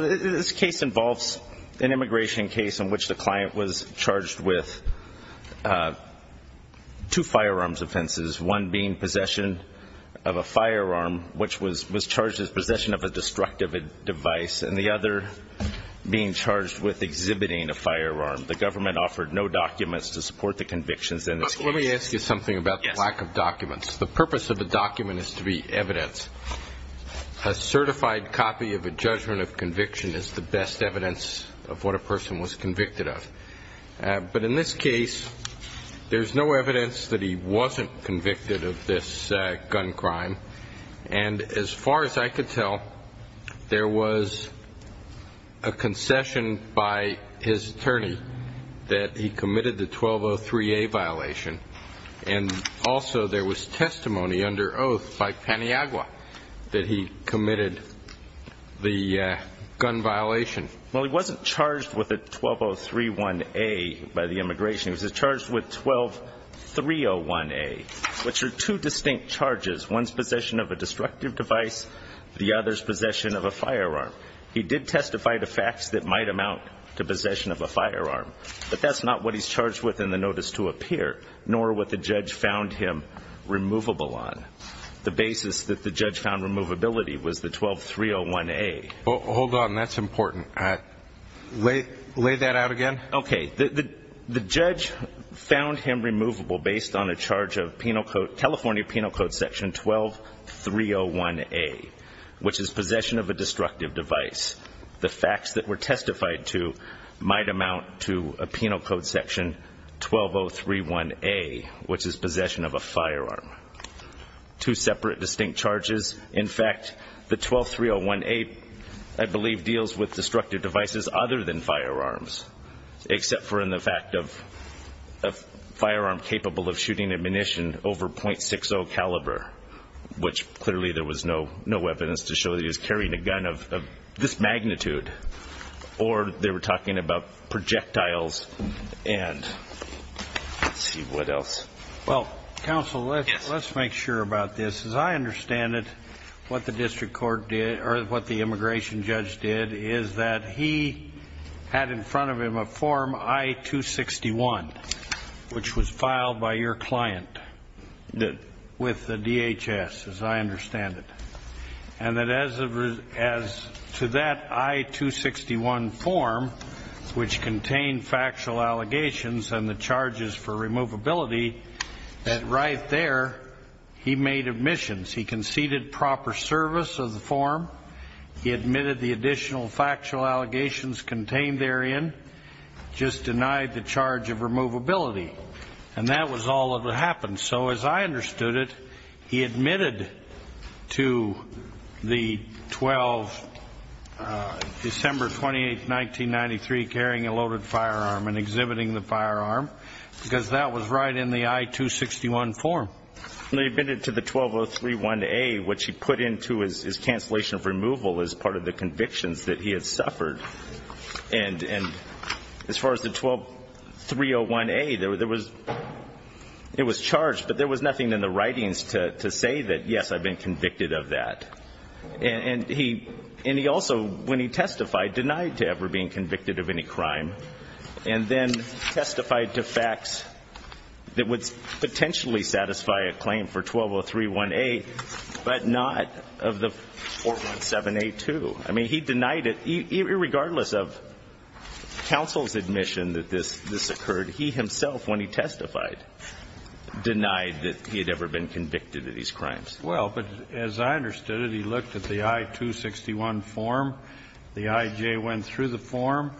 This case involves an immigration case in which the client was charged with two firearms offenses, one being possession of a firearm, which was charged as possession of a destructive device, and the other being charged with exhibiting a firearm. The government offered no documents to support the convictions in this case. Judge Goldberg But let me ask you something about the lack of documents. The purpose of a document is to be evidence. A certified copy of a judgment of conviction is the best evidence of what a person was convicted of. But in this case, there's no evidence that he wasn't convicted of this gun crime. And as far as I could tell, there was a concession by his attorney that he committed the 1203a violation. And also there was testimony under oath by Paniagua that he committed the gun violation. Judge Goldberg Well, he wasn't charged with a 12031a by the immigration. He was charged with 12301a, which are two distinct charges, one's possession of a destructive device, the other's possession of a firearm. He did testify to facts that might amount to possession of a firearm. But that's not what he's charged with in the notice to appear, nor what the judge found him removable on. The basis that the judge found removability was the 12301a. Lay that out again. Judge Goldberg Okay. The judge found him removable based on a charge of penal code, California penal code section 12301a, which is possession of a destructive device. The facts that were testified to might amount to a penal code section 12031a, which is possession of a firearm. Two separate distinct charges. In fact, the 12301a, I believe, deals with destructive devices other than firearms, except for in the fact of a firearm capable of shooting ammunition over .60 caliber, which clearly there was no evidence to show that he was carrying a gun of this magnitude. Or they were talking about projectiles and let's see what else. Judge Breda Well, counsel, let's make sure about this. As I understand it, what the district court did or what the immigration judge did is that he had in front of him a form I-261, which was filed by your client with the DHS, as I understand it. And that as to that I-261 form, which contained factual allegations and the charges for removability, that right there he made admissions. He conceded proper service of the form. He admitted the additional factual allegations contained therein. Just denied the charge of removability. And that was all that happened. So as I understood it, he admitted to the 12, December 28, 1993, carrying a loaded firearm and exhibiting the firearm, because that was right in the I-261 form. Judge Breda He admitted to the 12031A, which he put into his cancellation of removal as part of the convictions that he had suffered. And as far as the 120301A, it was charged, but there was nothing in the writings to say that, yes, I've been convicted of that. And he also, when he testified, denied to ever being convicted of any crime. And then testified to facts that would potentially satisfy a claim for 12031A, but not of the 417A2. I mean, he denied it, irregardless of counsel's admission that this occurred. He himself, when he testified, denied that he had ever been convicted of these crimes. Well, but as I understood it, he looked at the I-261 form, the IJ went through the form,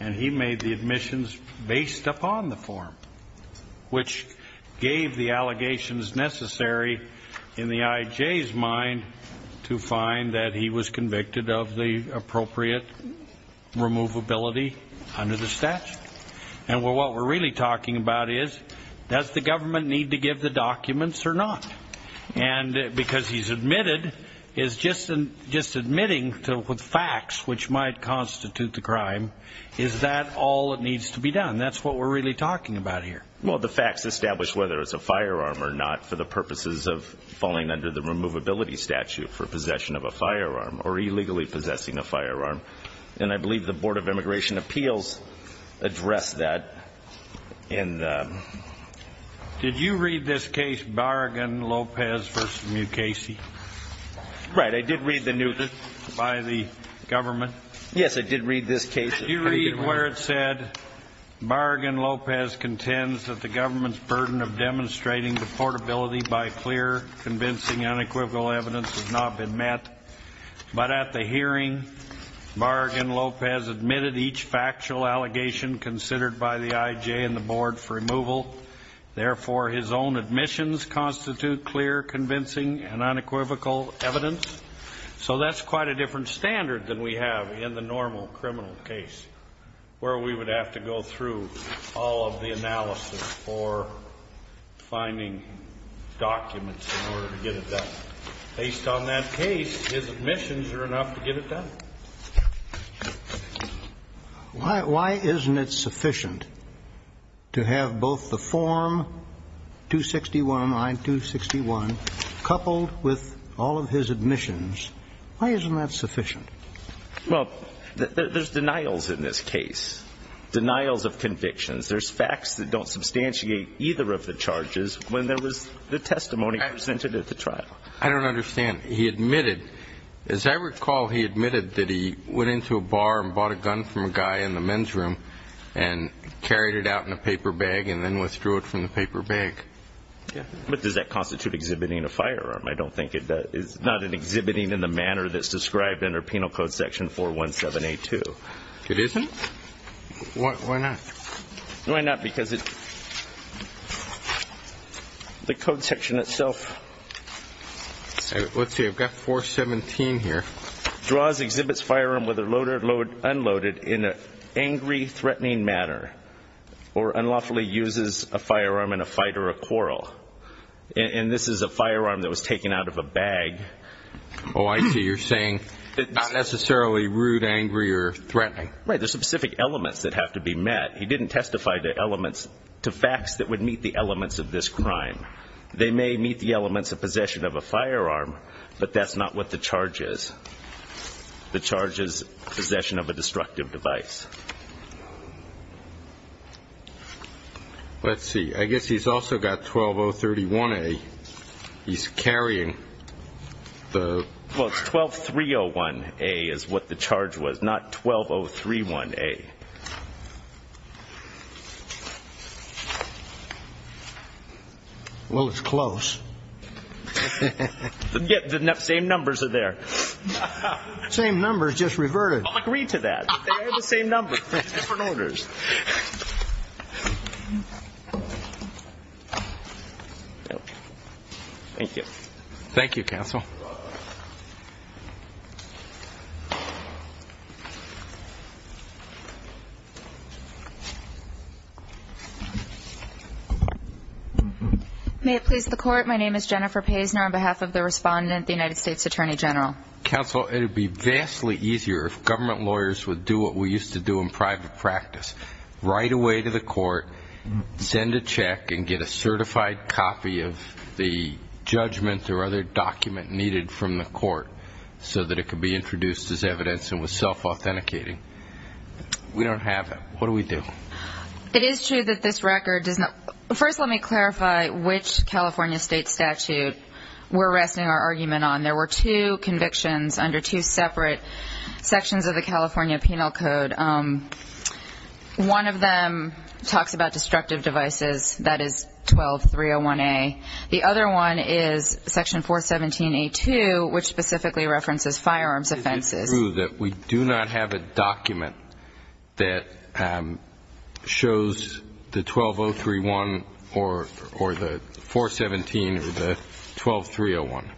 and he made the admissions based upon the form, which gave the allegations necessary in the IJ's mind to find that he was convicted of the appropriate removability under the statute. And what we're really talking about is, does the government need to give the documents or not? And because he's admitted, is just admitting with facts which might constitute the crime, is that all that needs to be done? That's what we're really talking about here. Well, the facts establish whether it's a firearm or not for the purposes of falling under the removability statute for possession of a firearm or illegally possessing a firearm. And I believe the Board of Immigration Appeals addressed that in the... Did you read this case, Barragan-Lopez v. Mukasey? Right. I did read the news by the government. Yes, I did read this case. You read where it said, Barragan-Lopez contends that the government's burden of demonstrating the portability by clear, convincing, unequivocal evidence has not been met. But at the hearing, Barragan-Lopez admitted each factual allegation considered by the IJ and the Board for removal. Therefore, his own admissions constitute clear, convincing, and unequivocal evidence. So that's quite a different standard than we have in the normal criminal case, where we would have to go through all of the analysis for finding documents in order to get it done. Based on that case, his admissions are enough to get it done. Why isn't it sufficient to have both the Form 261, I-261, coupled with all of his admissions? Why isn't that sufficient? Well, there's denials in this case, denials of convictions. There's facts that don't substantiate either of the charges when there was the testimony presented at the trial. I don't understand. He admitted, as I recall, he admitted that he went into a bar and bought a gun from a guy in the men's room and carried it out in a paper bag and then withdrew it from the paper bag. But does that constitute exhibiting a firearm? I don't think it does. It's not an exhibiting in the manner that's described under Penal Code Section 417A2. It isn't? Why not? Why not? Because the code section itself... Let's see. I've got 417 here. "...draws, exhibits firearm, whether loaded or unloaded, in an angry, threatening manner, or unlawfully uses a firearm in a fight or a quarrel." And this is a firearm that was taken out of a bag. Oh, I see. You're saying it's not necessarily rude, angry, or threatening. Right. There's specific elements that have to be met. He didn't testify to elements, to facts that would meet the elements of this crime. They may meet the elements of possession of a firearm, but that's not what the charge is. The charge is possession of a destructive device. Let's see. I guess he's also got 12031A. He's carrying the... 12031A. Well, it's close. The same numbers are there. Same numbers, just reverted. I'll agree to that. They're the same numbers, just different orders. Thank you. Thank you, counsel. May it please the Court, my name is Jennifer Paisner, on behalf of the respondent, the United States Attorney General. Counsel, it would be vastly easier if government lawyers would do what we used to do in private practice, right away to the court, send a check, and get a certified copy of the judgment or other document needed from the court, so that it could be introduced as evidence and was self-authenticating. We don't have that. What do we do? It is true that this record does not... First, let me clarify which California state statute we're resting our argument on. There were two convictions under two separate sections of the California Penal Code. One of them talks about destructive devices, that is 12301A. The other one is section 417A2, which specifically references firearms offenses. It is true that we do not have a document that shows the 12031 or the 417 or the 12301.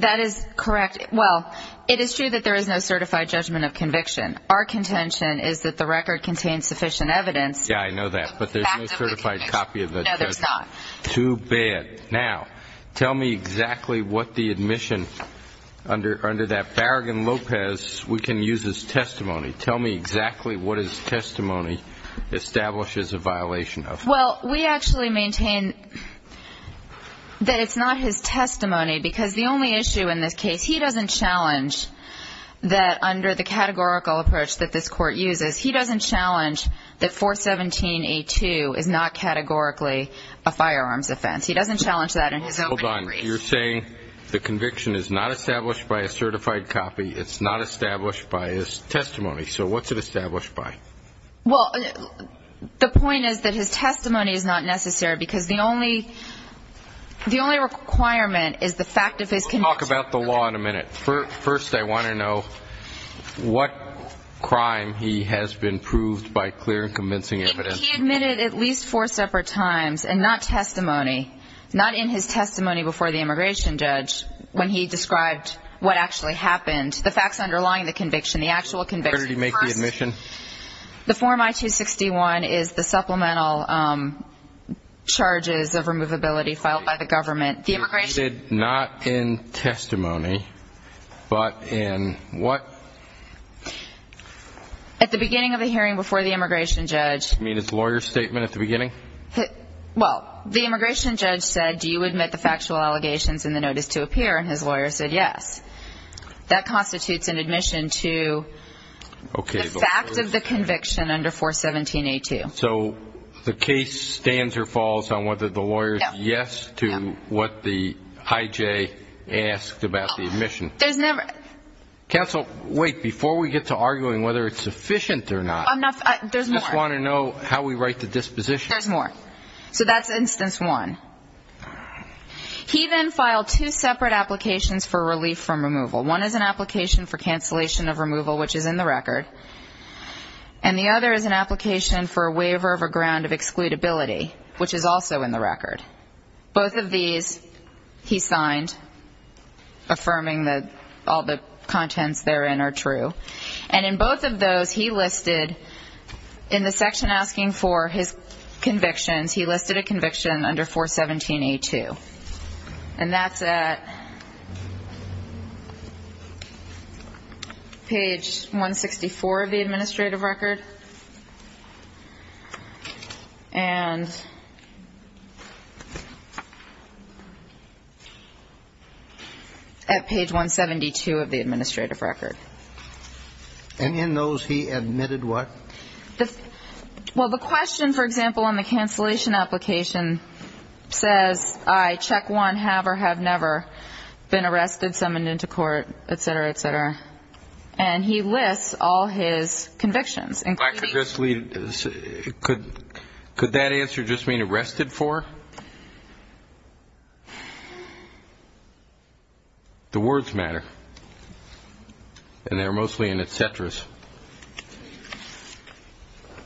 That is correct. Well, it is true that there is no certified judgment of conviction. Our contention is that the record contains sufficient evidence. Yeah, I know that, but there's no certified copy of the judgment. No, there's not. Too bad. Okay, now tell me exactly what the admission under that Barragan-Lopez we can use as testimony. Tell me exactly what his testimony establishes a violation of. Well, we actually maintain that it's not his testimony, because the only issue in this case, he doesn't challenge that under the categorical approach that this Court uses, he doesn't challenge that 417A2 is not categorically a firearms offense. He doesn't challenge that in his opening brief. Hold on. You're saying the conviction is not established by a certified copy. It's not established by his testimony. So what's it established by? Well, the point is that his testimony is not necessary, because the only requirement is the fact of his conviction. We'll talk about the law in a minute. First, I want to know what crime he has been proved by clear and convincing evidence. He admitted at least four separate times, and not testimony, not in his testimony before the immigration judge when he described what actually happened, the facts underlying the conviction, the actual conviction. Where did he make the admission? The Form I-261 is the supplemental charges of removability filed by the government. You said not in testimony, but in what? At the beginning of the hearing before the immigration judge. Does that mean it's a lawyer's statement at the beginning? Well, the immigration judge said, do you admit the factual allegations in the notice to appear, and his lawyer said yes. That constitutes an admission to the fact of the conviction under 417A2. So the case stands or falls on whether the lawyer's yes to what the IJ asked about the admission. There's never – Counsel, wait. Before we get to arguing whether it's sufficient or not, I just want to know how we write the disposition. There's more. So that's instance one. He then filed two separate applications for relief from removal. One is an application for cancellation of removal, which is in the record, and the other is an application for a waiver of a ground of excludability, which is also in the record. Both of these he signed, affirming that all the contents therein are true, and in both of those he listed, in the section asking for his convictions, he listed a conviction under 417A2, And that's at page 164 of the administrative record. And at page 172 of the administrative record. And in those, he admitted what? Well, the question, for example, on the cancellation application says, I check one have or have never been arrested, summoned into court, et cetera, et cetera. And he lists all his convictions. Could that answer just mean arrested for? The words matter. And they're mostly in et ceteras.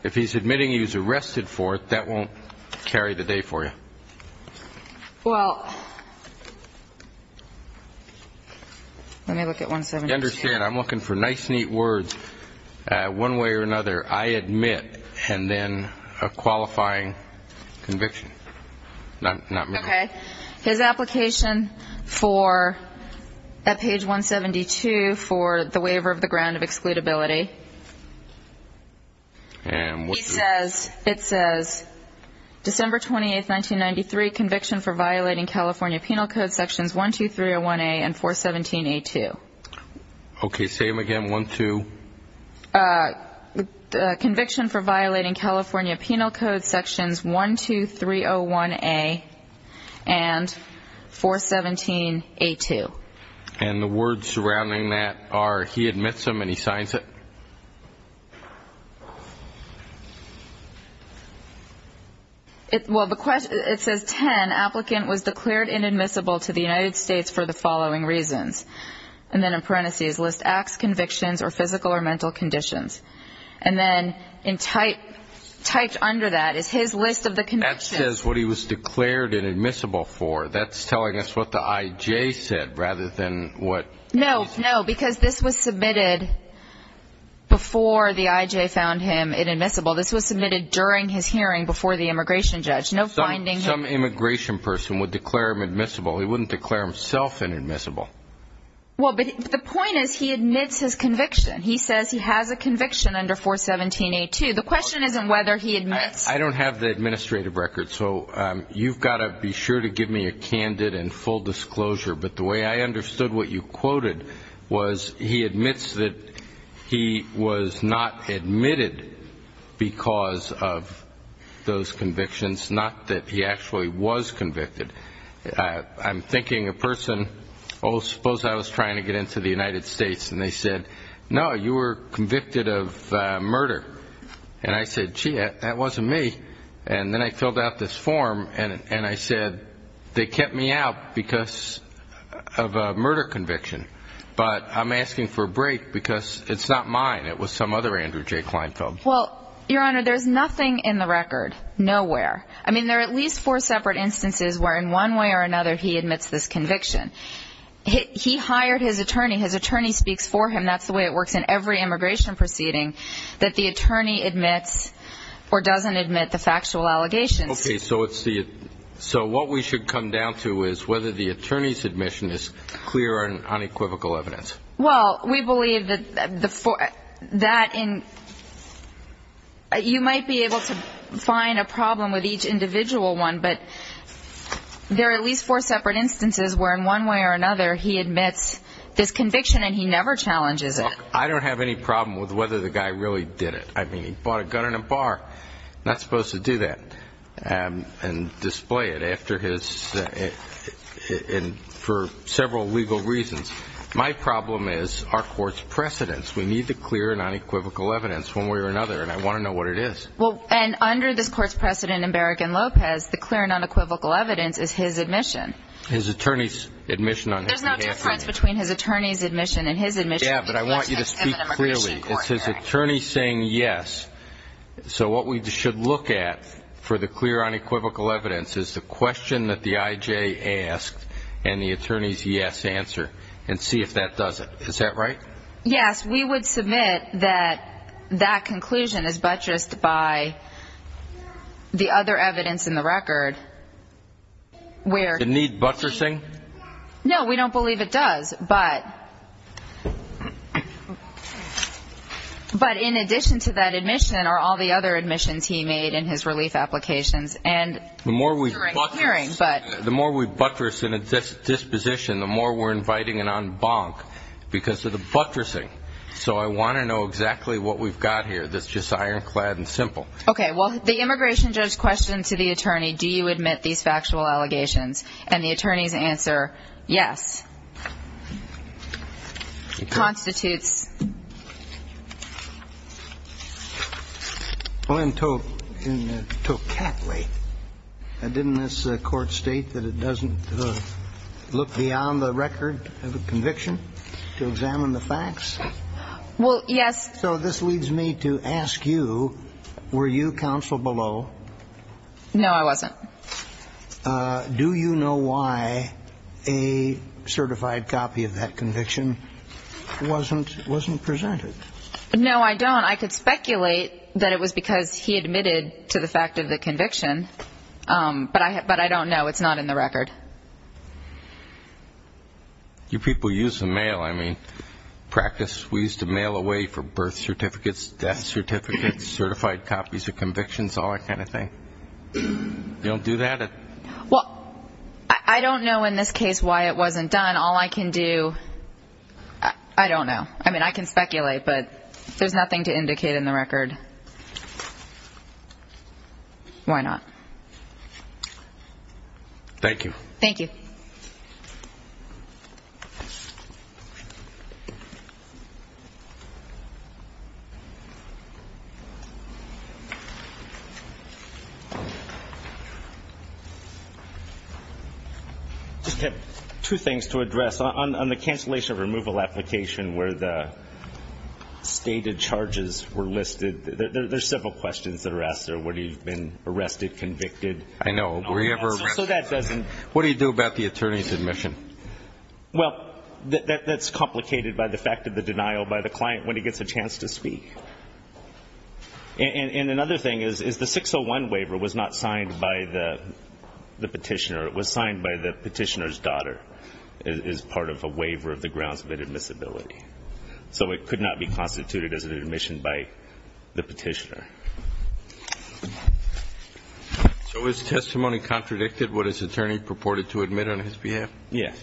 If he's admitting he was arrested for it, that won't carry the day for you. Well, let me look at 172. You understand, I'm looking for nice, neat words. One way or another, I admit, and then a qualifying conviction. Okay. His application for, at page 172, for the waiver of the ground of excludability. And what does it say? It says, December 28, 1993, conviction for violating California Penal Code Sections 12301A and 417A2. Conviction for violating California Penal Code Sections 12301A and 417A2. And the words surrounding that are he admits them and he signs it? Well, it says, 10, applicant was declared inadmissible to the United States for the following reasons. And then in parentheses, list acts, convictions, or physical or mental conditions. And then typed under that is his list of the convictions. That says what he was declared inadmissible for. That's telling us what the I.J. said rather than what he said. No, no, because this was submitted before the I.J. found him inadmissible. This was submitted during his hearing before the immigration judge. No finding him. Some immigration person would declare him admissible. He wouldn't declare himself inadmissible. Well, but the point is he admits his conviction. He says he has a conviction under 417A2. The question isn't whether he admits. I don't have the administrative record, so you've got to be sure to give me a candid and full disclosure. But the way I understood what you quoted was he admits that he was not admitted because of those convictions, not that he actually was convicted. I'm thinking a person, oh, suppose I was trying to get into the United States, and they said, no, you were convicted of murder. And I said, gee, that wasn't me. And then I filled out this form, and I said they kept me out because of a murder conviction. But I'm asking for a break because it's not mine. It was some other Andrew J. Kleinfeld. Well, Your Honor, there's nothing in the record, nowhere. I mean, there are at least four separate instances where in one way or another he admits this conviction. He hired his attorney. His attorney speaks for him. That's the way it works in every immigration proceeding, that the attorney admits or doesn't admit the factual allegations. Okay, so what we should come down to is whether the attorney's admission is clear and unequivocal evidence. Well, we believe that you might be able to find a problem with each individual one, but there are at least four separate instances where in one way or another he admits this conviction and he never challenges it. Look, I don't have any problem with whether the guy really did it. I mean, he bought a gun in a bar. Not supposed to do that and display it after his ‑‑ for several legal reasons. My problem is our court's precedence. We need the clear and unequivocal evidence one way or another, and I want to know what it is. Well, and under this court's precedent in Barragan-Lopez, the clear and unequivocal evidence is his admission. His attorney's admission on his behalf. There's no difference between his attorney's admission and his admission. Yeah, but I want you to speak clearly. It's his attorney saying yes. So what we should look at for the clear unequivocal evidence is the question that the IJ asked and the attorney's yes answer and see if that does it. Is that right? Yes. We would submit that that conclusion is buttressed by the other evidence in the record. Does it need buttressing? No, we don't believe it does. But in addition to that admission are all the other admissions he made in his relief applications. The more we buttress in a disposition, the more we're inviting an en banc because of the buttressing. So I want to know exactly what we've got here that's just ironclad and simple. Okay. Well, the immigration judge questions the attorney, do you admit these factual allegations? And the attorney's answer, yes, constitutes. Well, in Tocatli, didn't this court state that it doesn't look beyond the record of a conviction to examine the facts? Well, yes. So this leads me to ask you, were you counsel below? No, I wasn't. Do you know why a certified copy of that conviction wasn't presented? No, I don't. I could speculate that it was because he admitted to the fact of the conviction, but I don't know. It's not in the record. You people use the mail, I mean, practice. We used to mail away for birth certificates, death certificates, certified copies of convictions, all that kind of thing. You don't do that? Well, I don't know in this case why it wasn't done. All I can do, I don't know. I mean, I can speculate, but there's nothing to indicate in the record. Why not? Thank you. I just have two things to address. On the cancellation of removal application where the stated charges were listed, there's several questions that are asked there. Would he have been arrested, convicted? I know. Were he ever arrested? I don't know. I don't know. What do you do about the attorney's admission? Well, that's complicated by the fact of the denial by the client when he gets a chance to speak. And another thing is the 601 waiver was not signed by the petitioner. It was signed by the petitioner's daughter as part of a waiver of the grounds of admissibility. So it could not be constituted as an admission by the petitioner. So is testimony contradicted what his attorney purported to admit on his behalf? Yes.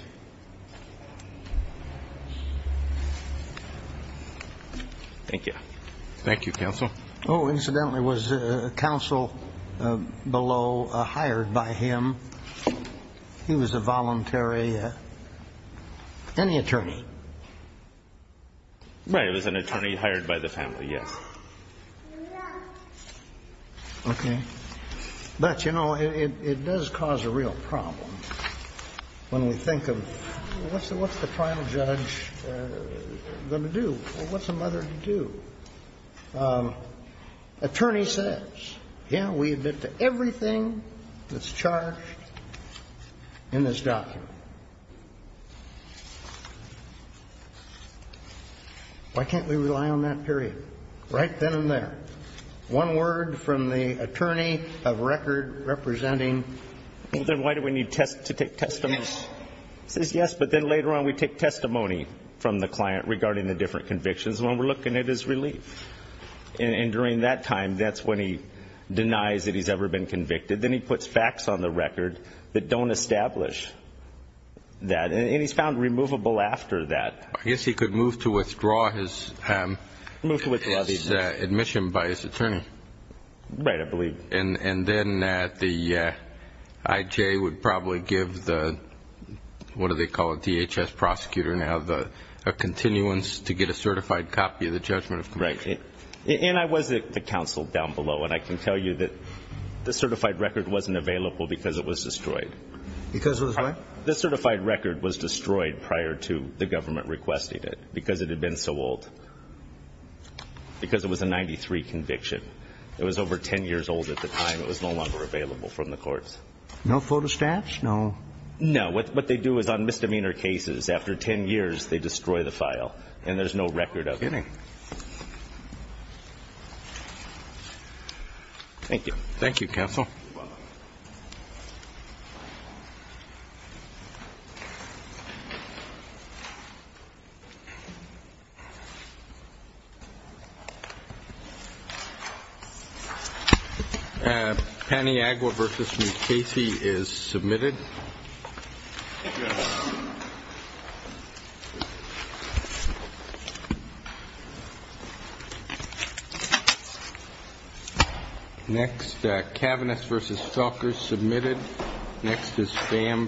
Thank you. Thank you, counsel. Oh, incidentally, was counsel below hired by him? He was a voluntary. Any attorney? Right. It was an attorney hired by the family, yes. No. Okay. But, you know, it does cause a real problem when we think of what's the trial judge going to do? What's a mother to do? Attorney says, yeah, we admit to everything that's charged in this document. Why can't we rely on that period? Right then and there. One word from the attorney of record representing. Well, then why do we need to take testimony? Yes. He says yes, but then later on we take testimony from the client regarding the different convictions. And what we're looking at is relief. And during that time, that's when he denies that he's ever been convicted. Then he puts facts on the record that don't establish that. And he's found removable after that. I guess he could move to withdraw his admission by his attorney. Right, I believe. And then the IJ would probably give the, what do they call it, DHS prosecutor now, a continuance to get a certified copy of the judgment of conviction. Right. And I was at the council down below, and I can tell you that the certified record wasn't available because it was destroyed. Because it was what? The certified record was destroyed prior to the government requesting it because it had been so old, because it was a 93 conviction. It was over 10 years old at the time. It was no longer available from the courts. No photostats? No. No. What they do is on misdemeanor cases, after 10 years, they destroy the file, and there's no record of it. You're kidding. Thank you. You're welcome. Thank you. Paniagua v. McCasey is submitted. Thank you. Next, Kavanaugh v. Felkers submitted. Next is Pham v. Tilton.